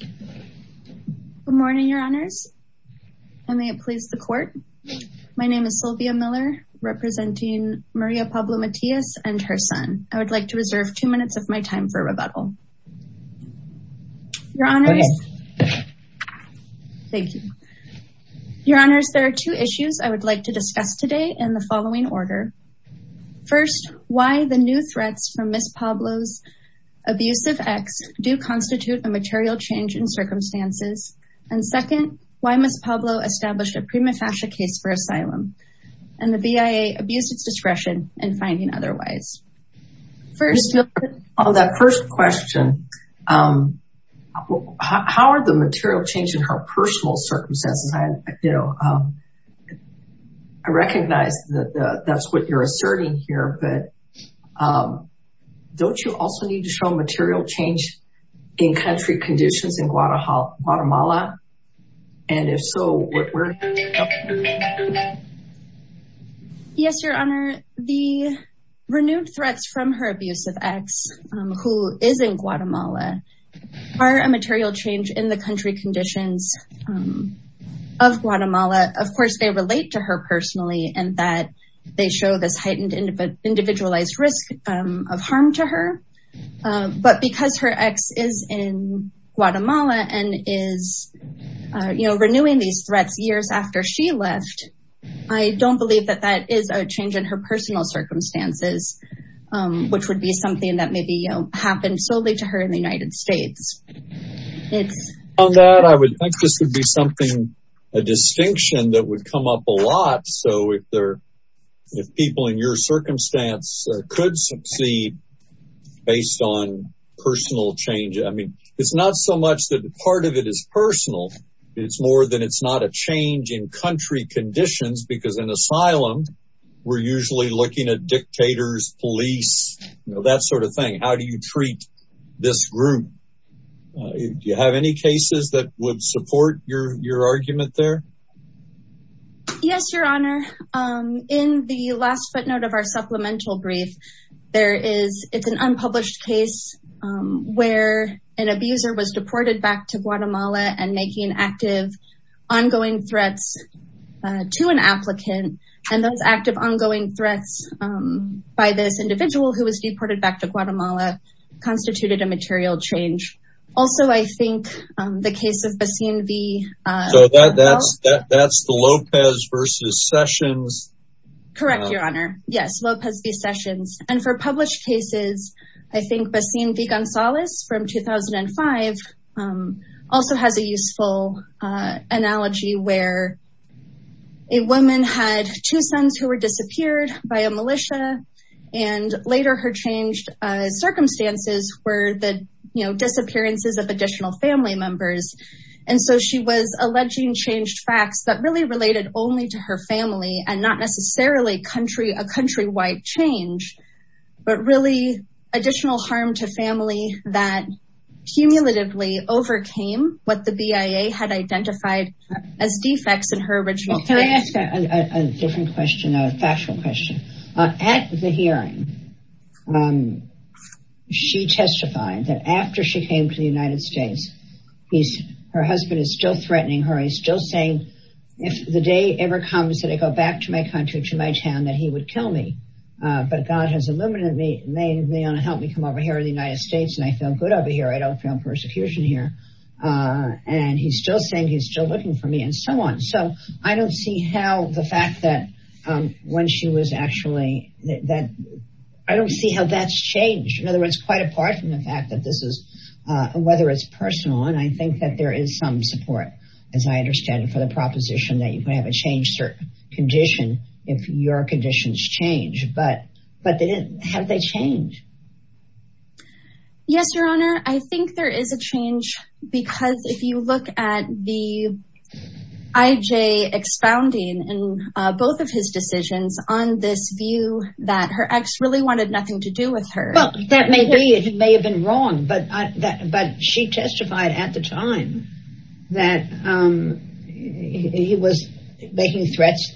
Good morning, your honors. And may it please the court. My name is Sylvia Miller, representing Maria Pablo Matias and her son. I would like to reserve two minutes of my time for rebuttal. Your honors. Thank you. Your honors, there are two issues I would like to discuss today in the following order. First, why the new threats from Miss Pablo's abusive ex do constitute a material change in circumstances? And second, why Miss Pablo established a prima facie case for asylum and the BIA abused its discretion in finding otherwise? First, on that first question, how are the material change in her personal circumstances? I, you know, I recognize that that's what you're asserting here. But don't you also need to show material change in country conditions in Guatemala? And if so, what we're Yes, your honor, the renewed threats from her abusive ex, who is in Guatemala, are a material change in the country conditions of Guatemala. Of course, they relate to her But because her ex is in Guatemala, and is, you know, renewing these threats years after she left, I don't believe that that is a change in her personal circumstances, which would be something that maybe happened solely to her in the United States. On that, I would think this would be something, a distinction that would come up a lot. So if there, if people in your circumstance could succeed, based on personal change, I mean, it's not so much that part of it is personal. It's more than it's not a change in country conditions, because in asylum, we're usually looking at dictators, police, that sort of thing. How do you treat this group? Do you have any cases that would support your argument there? Yes, your honor. In the last footnote of our supplemental brief, there is it's an unpublished case where an abuser was deported back to Guatemala and making active, ongoing threats to an applicant. And those active ongoing threats by this individual who was deported back to Guatemala, constituted a material change. Also, I think the case of Basin V. So that's the Lopez versus Sessions. Correct, your honor. Yes, Lopez V. Sessions. And for published cases, I think Basin V. Gonzalez from 2005 also has a useful analogy where a woman had two sons who were in changed circumstances where the, you know, disappearances of additional family members. And so she was alleging changed facts that really related only to her family and not necessarily a countrywide change, but really additional harm to family that cumulatively overcame what the BIA had identified as defects in her original case. Can I ask a different question, a factual question? At the hearing, she testified that after she came to the United States, her husband is still threatening her. He's still saying, if the day ever comes that I go back to my country, to my town, that he would kill me. But God has eliminated me. And they want to help me come over here in the United States. And I feel good over here. I don't feel persecution here. And he's still saying he's still looking for me and so on. So I don't see how the fact that when she was actually that, I don't see how that's changed. In other words, quite apart from the fact that this is whether it's personal. And I think that there is some support, as I understand it, for the proposition that you can have a changed condition if your conditions change. But how did they change? Yes, Your Honor, I think there is a change, because if you look at the IJ expounding in both of his decisions on this view that her ex really wanted nothing to do with her. Well, that may be, it may have been wrong, but she testified at the time that he was making threats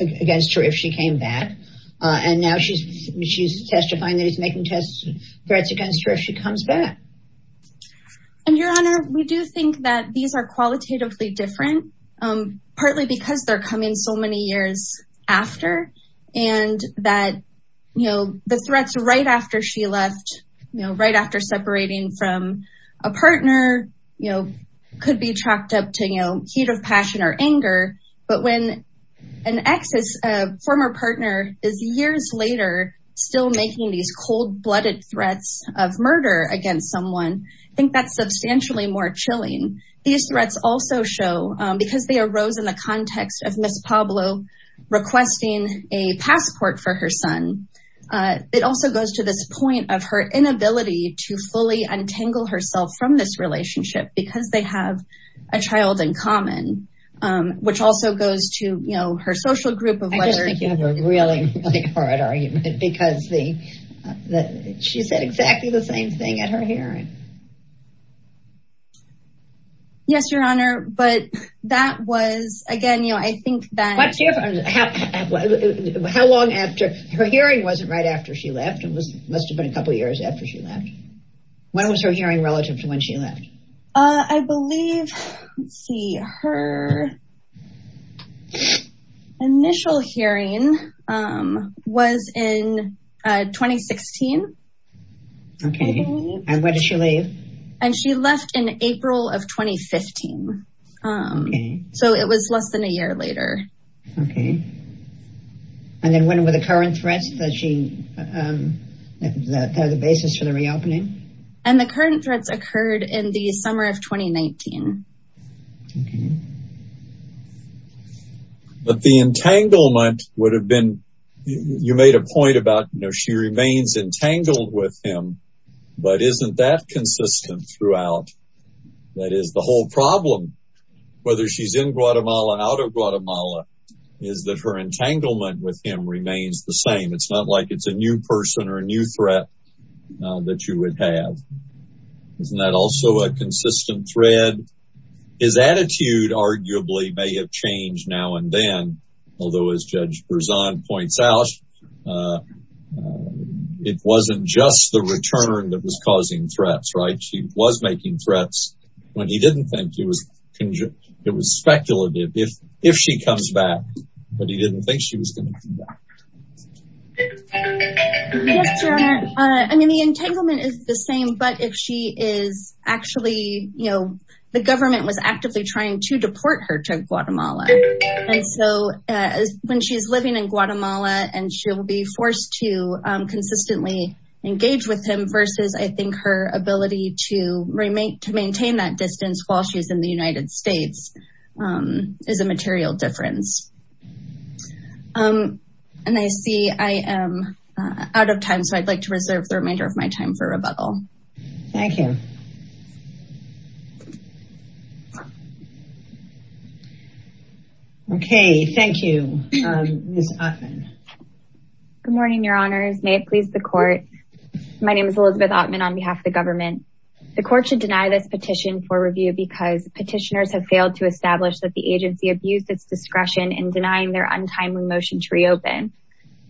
against her if she came back. And now she's she's testifying that he's making threats against her if she comes back. And Your Honor, we do think that these are qualitatively different, partly because they're coming so many years after and that, you know, the threats right after she left, right after separating from a partner, you know, could be tracked up to, you know, heat of passion or anger. But when an ex, a former partner, is years later still making these cold blooded threats of murder against someone, I think that's substantially more chilling. These threats also show because they arose in the context of Miss Pablo requesting a passport for her son. It also goes to this point of her inability to fully untangle herself from this relationship because they have a child in common, which also goes to, you know, her social group of whether you have a really hard argument because the that she said exactly the same thing at her hearing. Yes, Your Honor, but that was again, you know, I think that's how long after her hearing wasn't right after she left, it was must have been a couple of years after she left. When was her hearing relative to when she left? I believe, let's see, her. Initial hearing was in 2016. OK, and where did she leave? And she left in April of 2015. So it was less than a year later. OK. And then when were the current threats that she, that are the basis for the reopening? And the current threats occurred in the summer of 2019. But the entanglement would have been, you made a point about, you know, she remains entangled with him, but isn't that consistent throughout? That is the whole problem, whether she's in Guatemala, out of Guatemala, is that her entanglement with him remains the same. It's not like it's a new person or a new threat that you would have. Isn't that also a consistent thread? His attitude arguably may have changed now and then, although, as Judge Berzon points out, it wasn't just the return that was causing threats, right? She was making threats when he didn't think he was. It was speculative if if she comes back, but he didn't think she was going to come back. Yes, Your Honor, I mean, the entanglement is the same, but if she is actually, you know, the government was actively trying to deport her to Guatemala. And so when she's living in Guatemala and she'll be forced to consistently engage with him versus I think her ability to remain, to maintain that distance while she's in the United States is a material difference. And I see I am out of time, so I'd like to reserve the remainder of my time for rebuttal. Thank you. OK, thank you, Ms. Ottman. Good morning, Your Honors. May it please the court. The court should deny this petition for review because petitioners have failed to establish that the agency abused its discretion in denying their untimely motion to reopen.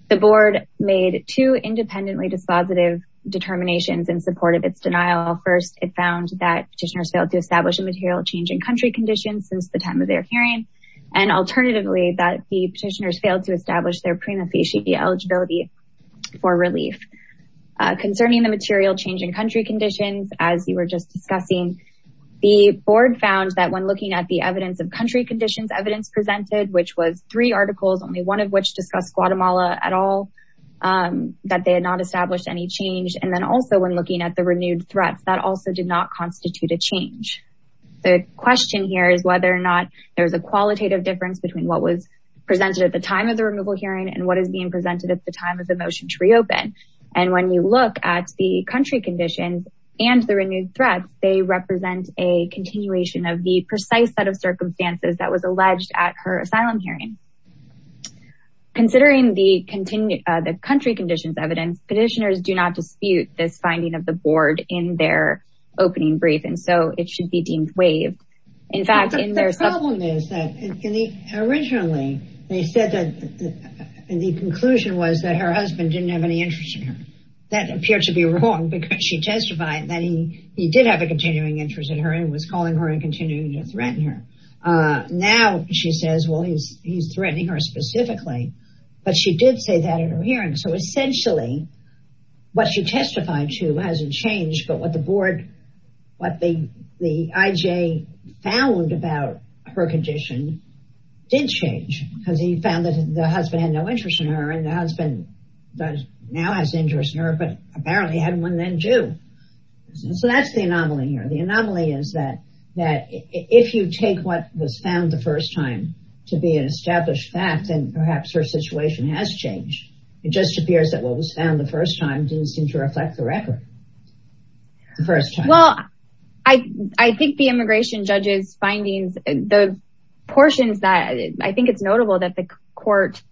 The board made two independently dispositive determinations in support of its denial. First, it found that petitioners failed to establish a material change in country conditions since the time of their hearing, and alternatively, that the petitioners failed to establish their prima facie eligibility for relief. Concerning the material change in country conditions, as you were just discussing, the board found that when looking at the evidence of country conditions evidence presented, which was three articles, only one of which discussed Guatemala at all, that they had not established any change. And then also when looking at the renewed threats, that also did not constitute a change. The question here is whether or not there is a qualitative difference between what was presented at the time of the removal hearing and what is being presented at the time of the motion to reopen. And when you look at the country conditions and the renewed threat, they represent a continuation of the precise set of circumstances that was alleged at her asylum hearing. Considering the country conditions evidence, petitioners do not dispute this finding of the board in their opening brief, and so it should be deemed waived. In fact, the problem is that originally they said that the conclusion was that her husband didn't have any interest in her. That appeared to be wrong because she testified that he did have a continuing interest in her and was calling her and continuing to threaten her. Now, she says, well, he's threatening her specifically, but she did say that in her hearing. So essentially, what she testified to hasn't changed, but what the board, what the IJ found about her condition didn't change because he found that the husband had no interest in her and the husband now has interest in her, but apparently had one then too. So that's the anomaly here. The anomaly is that if you take what was found the first time to be an established fact, then perhaps her situation has changed. It just appears that what was found the first time didn't seem to reflect the record. The first time. Well, I think the immigration judge's findings, the portions that I think it's notable that the court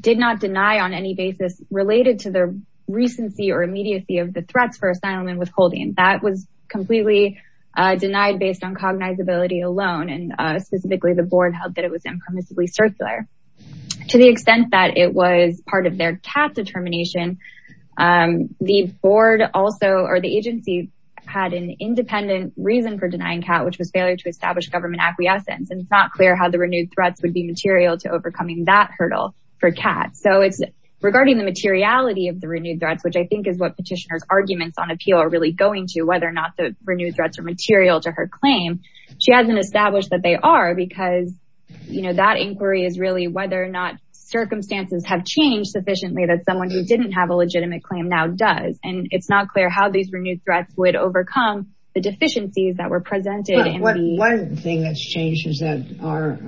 did not deny on any basis related to the recency or immediacy of the threats for asylum and withholding. That was completely denied based on cognizability alone, and specifically the board held that it was impermissibly circular. To the extent that it was part of their cat determination, the board also or the agency had an independent reason for denying cat, which was failure to establish government acquiescence. And it's not clear how the renewed threats would be material to overcoming that hurdle for cat. So it's regarding the materiality of the renewed threats, which I think is what petitioners arguments on appeal are really going to whether or not the renewed threats are material to her claim. She hasn't established that they are because, you know, that inquiry is really whether or not circumstances have changed sufficiently that someone who didn't have a legitimate claim now does. And it's not clear how these renewed threats would overcome the deficiencies that were presented. One thing that's changed is that our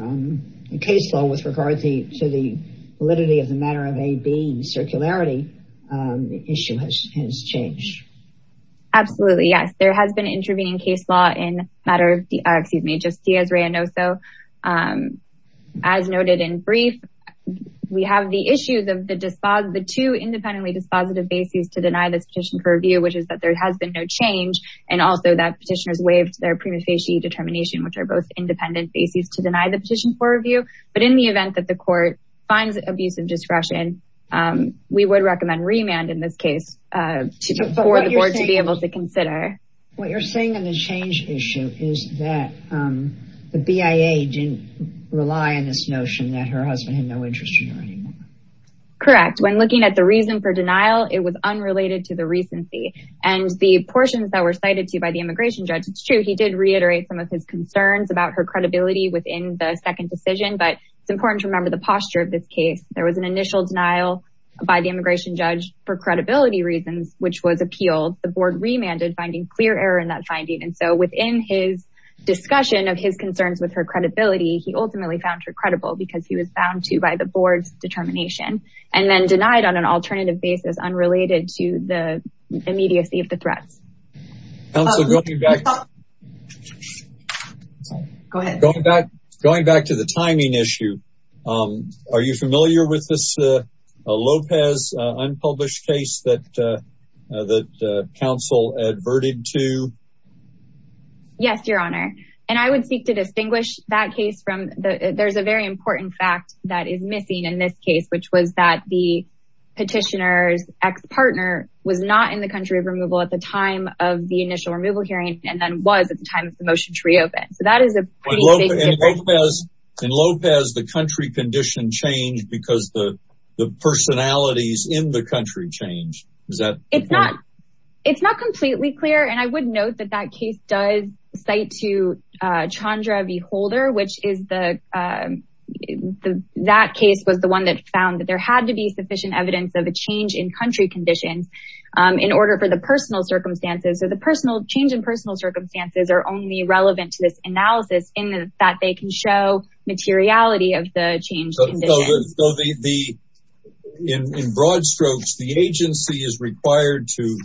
case law with regard to the validity of the matter of a being circularity issue has changed. Absolutely, yes, there has been intervening case law in matter of the excuse me, just as random. So as noted in brief, we have the issues of the two independently dispositive basis to deny this petition for review, which is that there has been no change. And also that petitioners waived their prima facie determination, which are both independent basis to deny the petition for review. But in the event that the court finds abuse of discretion, we would recommend remand in this case for the board to be able to consider. What you're saying on the change issue is that the BIA didn't rely on this notion that her husband had no interest in her anymore. Correct. When looking at the reason for denial, it was unrelated to the recency and the portions that were cited to you by the immigration judge. He did reiterate some of his concerns about her credibility within the second decision. But it's important to remember the posture of this case. There was an initial denial by the immigration judge for credibility reasons, which was appealed. The board remanded finding clear error in that finding. And so within his discussion of his concerns with her credibility, he ultimately found her credible because he was bound to by the board's determination and then denied on an alternative basis unrelated to the immediacy of the threats. Council, going back to the timing issue. Are you familiar with this Lopez unpublished case that the council adverted to? Yes, your honor. And I would seek to distinguish that case from there's a very important fact that is missing in this case, which was that the petitioner's ex-partner was not in the country of removal at the time. Of the initial removal hearing, and then was at the time of the motion to reopen. So that is a. In Lopez, the country condition changed because the personalities in the country change. Is that it's not it's not completely clear. And I would note that that case does cite to Chandra V. Holder, which is the that case was the one that found that there had to be sufficient evidence of a change in country conditions. In order for the personal circumstances or the personal change in personal circumstances are only relevant to this analysis in that they can show materiality of the change. So the in broad strokes, the agency is required to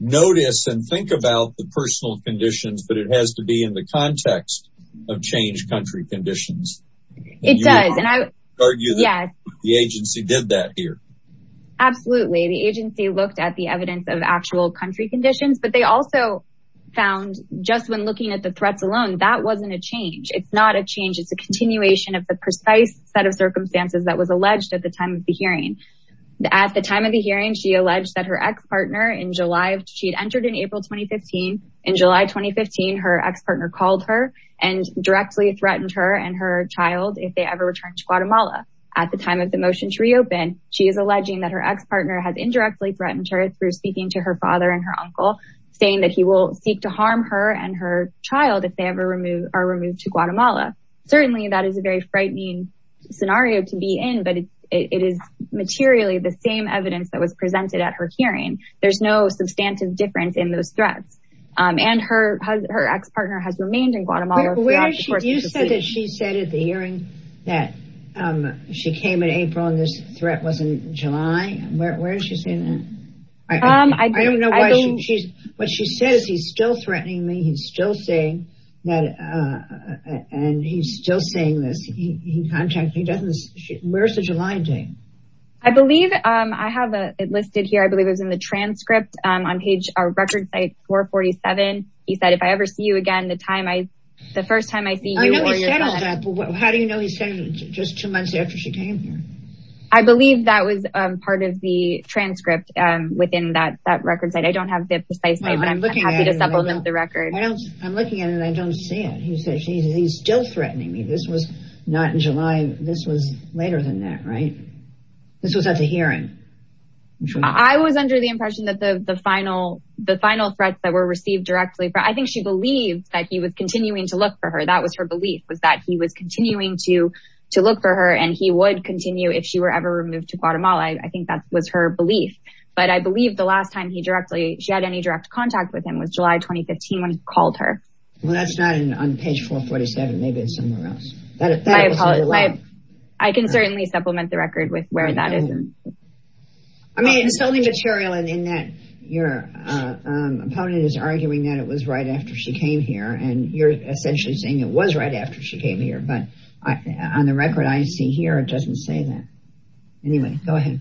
notice and think about the personal conditions, but it has to be in the context of change country conditions. It does. And I argue that the agency did that here. Absolutely. The agency looked at the evidence of actual country conditions, but they also found just when looking at the threats alone, that wasn't a change. It's not a change. It's a continuation of the precise set of circumstances that was alleged at the time of the hearing. At the time of the hearing, she alleged that her ex-partner in July, she'd entered in April 2015. In July 2015, her ex-partner called her and directly threatened her and her child if they ever returned to Guatemala. At the time of the motion to reopen, she is alleging that her ex-partner has indirectly threatened her through speaking to her father and her uncle, saying that he will seek to harm her and her child if they ever are removed to Guatemala. Certainly, that is a very frightening scenario to be in, but it is materially the same evidence that was presented at her hearing. There's no substantive difference in those threats. And her ex-partner has remained in Guatemala. You said that she said at the hearing that she came in April and this threat was in July. Where is she saying that? I don't know. What she says, he's still threatening me. He's still saying that and he's still saying this. He contacted me. Where's the July date? I believe I have it listed here. I believe it was in the transcript on page record site 447. He said, if I ever see you again, the first time I see you. I know he said all that, but how do you know he said it just two months after she came here? I believe that was part of the transcript within that record site. I don't have the precise date, but I'm happy to supplement the record. I'm looking at it and I don't see it. He said he's still threatening me. This was not in July. This was later than that, right? This was at the hearing. I was under the impression that the final threats that were received directly. I think she believed that he was continuing to look for her. That was her belief was that he was continuing to look for her and he would continue if she were ever removed to Guatemala. I think that was her belief. But I believe the last time she had any direct contact with him was July 2015 when he called her. Well, that's not on page 447. Maybe it's somewhere else. I can certainly supplement the record with where that is. I mean it's only material in that your opponent is arguing that it was right after she came here and you're essentially saying it was right after she came here. But on the record I see here it doesn't say that. Anyway, go ahead.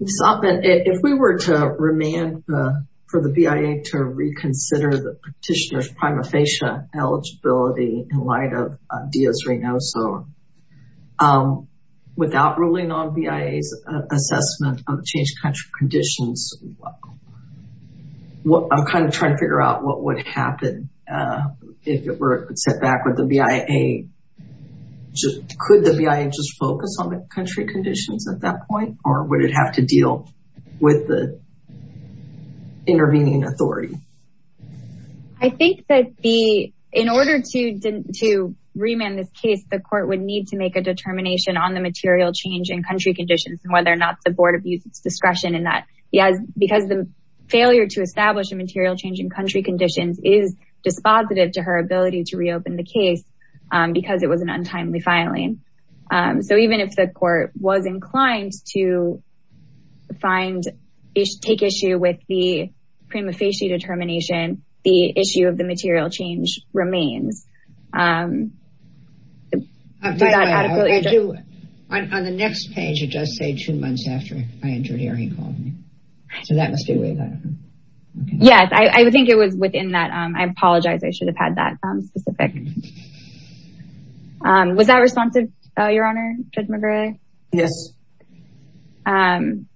If we were to remand for the BIA to reconsider the petitioner's prima facie eligibility in light of Diaz-Reynoso without ruling on BIA's assessment of changed country conditions, I'm kind of trying to figure out what would happen if it were set back with the BIA. Could the BIA just focus on the country conditions at that point or would it have to deal with the intervening authority? I think that in order to remand this case, the court would need to make a determination on the material change in country conditions and whether or not the board of use its discretion in that because the failure to establish a material change in country conditions is dispositive to her ability to reopen the case because it was an untimely filing. So even if the court was inclined to take issue with the prima facie determination, the issue of the material change remains. On the next page, it does say two months after I entered here he called me. So that must be where that happened. Yes, I think it was within that. I apologize. I should have had that specific. Was that responsive, Your Honor, Judge McGray? Yes. Um,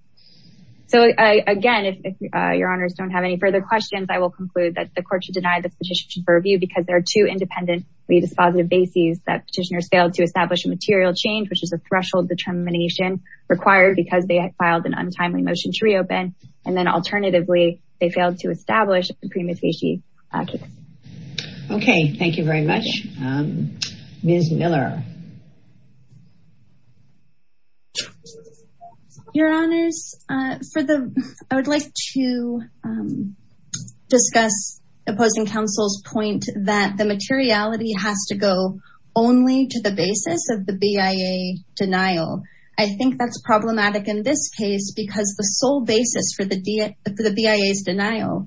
so again, if Your Honors don't have any further questions, I will conclude that the court should deny the petition for review because there are two independently dispositive bases that petitioners failed to establish a material change, which is a threshold determination required because they had filed an untimely motion to reopen. And then alternatively, they failed to establish the prima facie. Okay, thank you very much, Ms. Miller. Your Honors, I would like to discuss opposing counsel's point that the materiality has to go only to the basis of the BIA denial. I think that's problematic in this case because the sole basis for the BIA's denial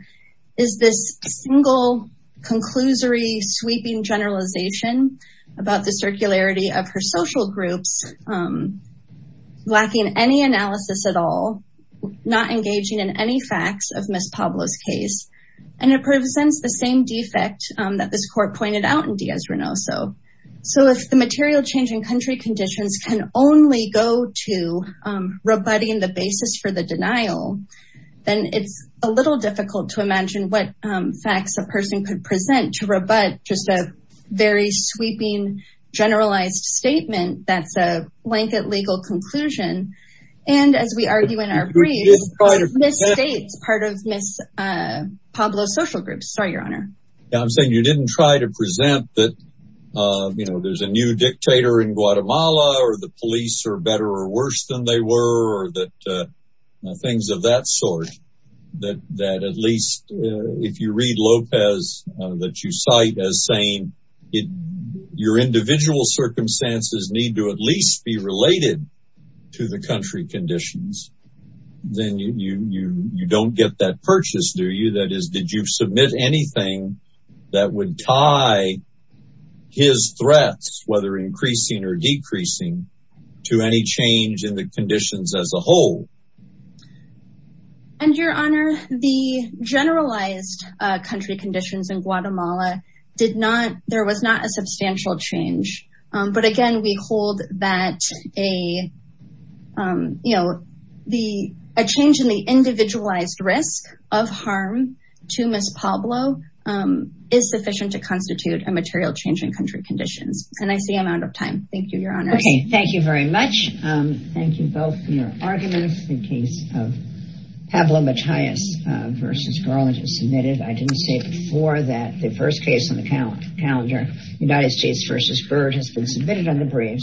is this single conclusory sweeping generalization about the circularity of her social groups um, lacking any analysis at all, not engaging in any facts of Ms. Pablo's case. And it presents the same defect that this court pointed out in Diaz-Renoso. So if the material change in country conditions can only go to rebutting the basis for the denial, then it's a little difficult to imagine what facts a person could present to rebut just a sweeping generalized statement that's a blanket legal conclusion. And as we argue in our brief, Ms. States, part of Ms. Pablo's social group. Sorry, Your Honor. I'm saying you didn't try to present that, you know, there's a new dictator in Guatemala, or the police are better or worse than they were, or that things of that sort. That at least if you read Lopez, that you cite as saying, your individual circumstances need to at least be related to the country conditions, then you don't get that purchase, do you? That is, did you submit anything that would tie his threats, whether increasing or decreasing, to any change in the conditions as a whole? And Your Honor, the generalized country conditions in Guatemala did not, there was not a substantial change. But again, we hold that a change in the individualized risk of harm to Ms. Pablo is sufficient to constitute a material change in country conditions. And I see I'm out of time. Thank you, Your Honor. Okay, thank you very much. Thank you both for your arguments. The case of Pablo Matias v. Garland is submitted. I didn't say before that the first case on the calendar, United States v. Byrd has been submitted on the briefs.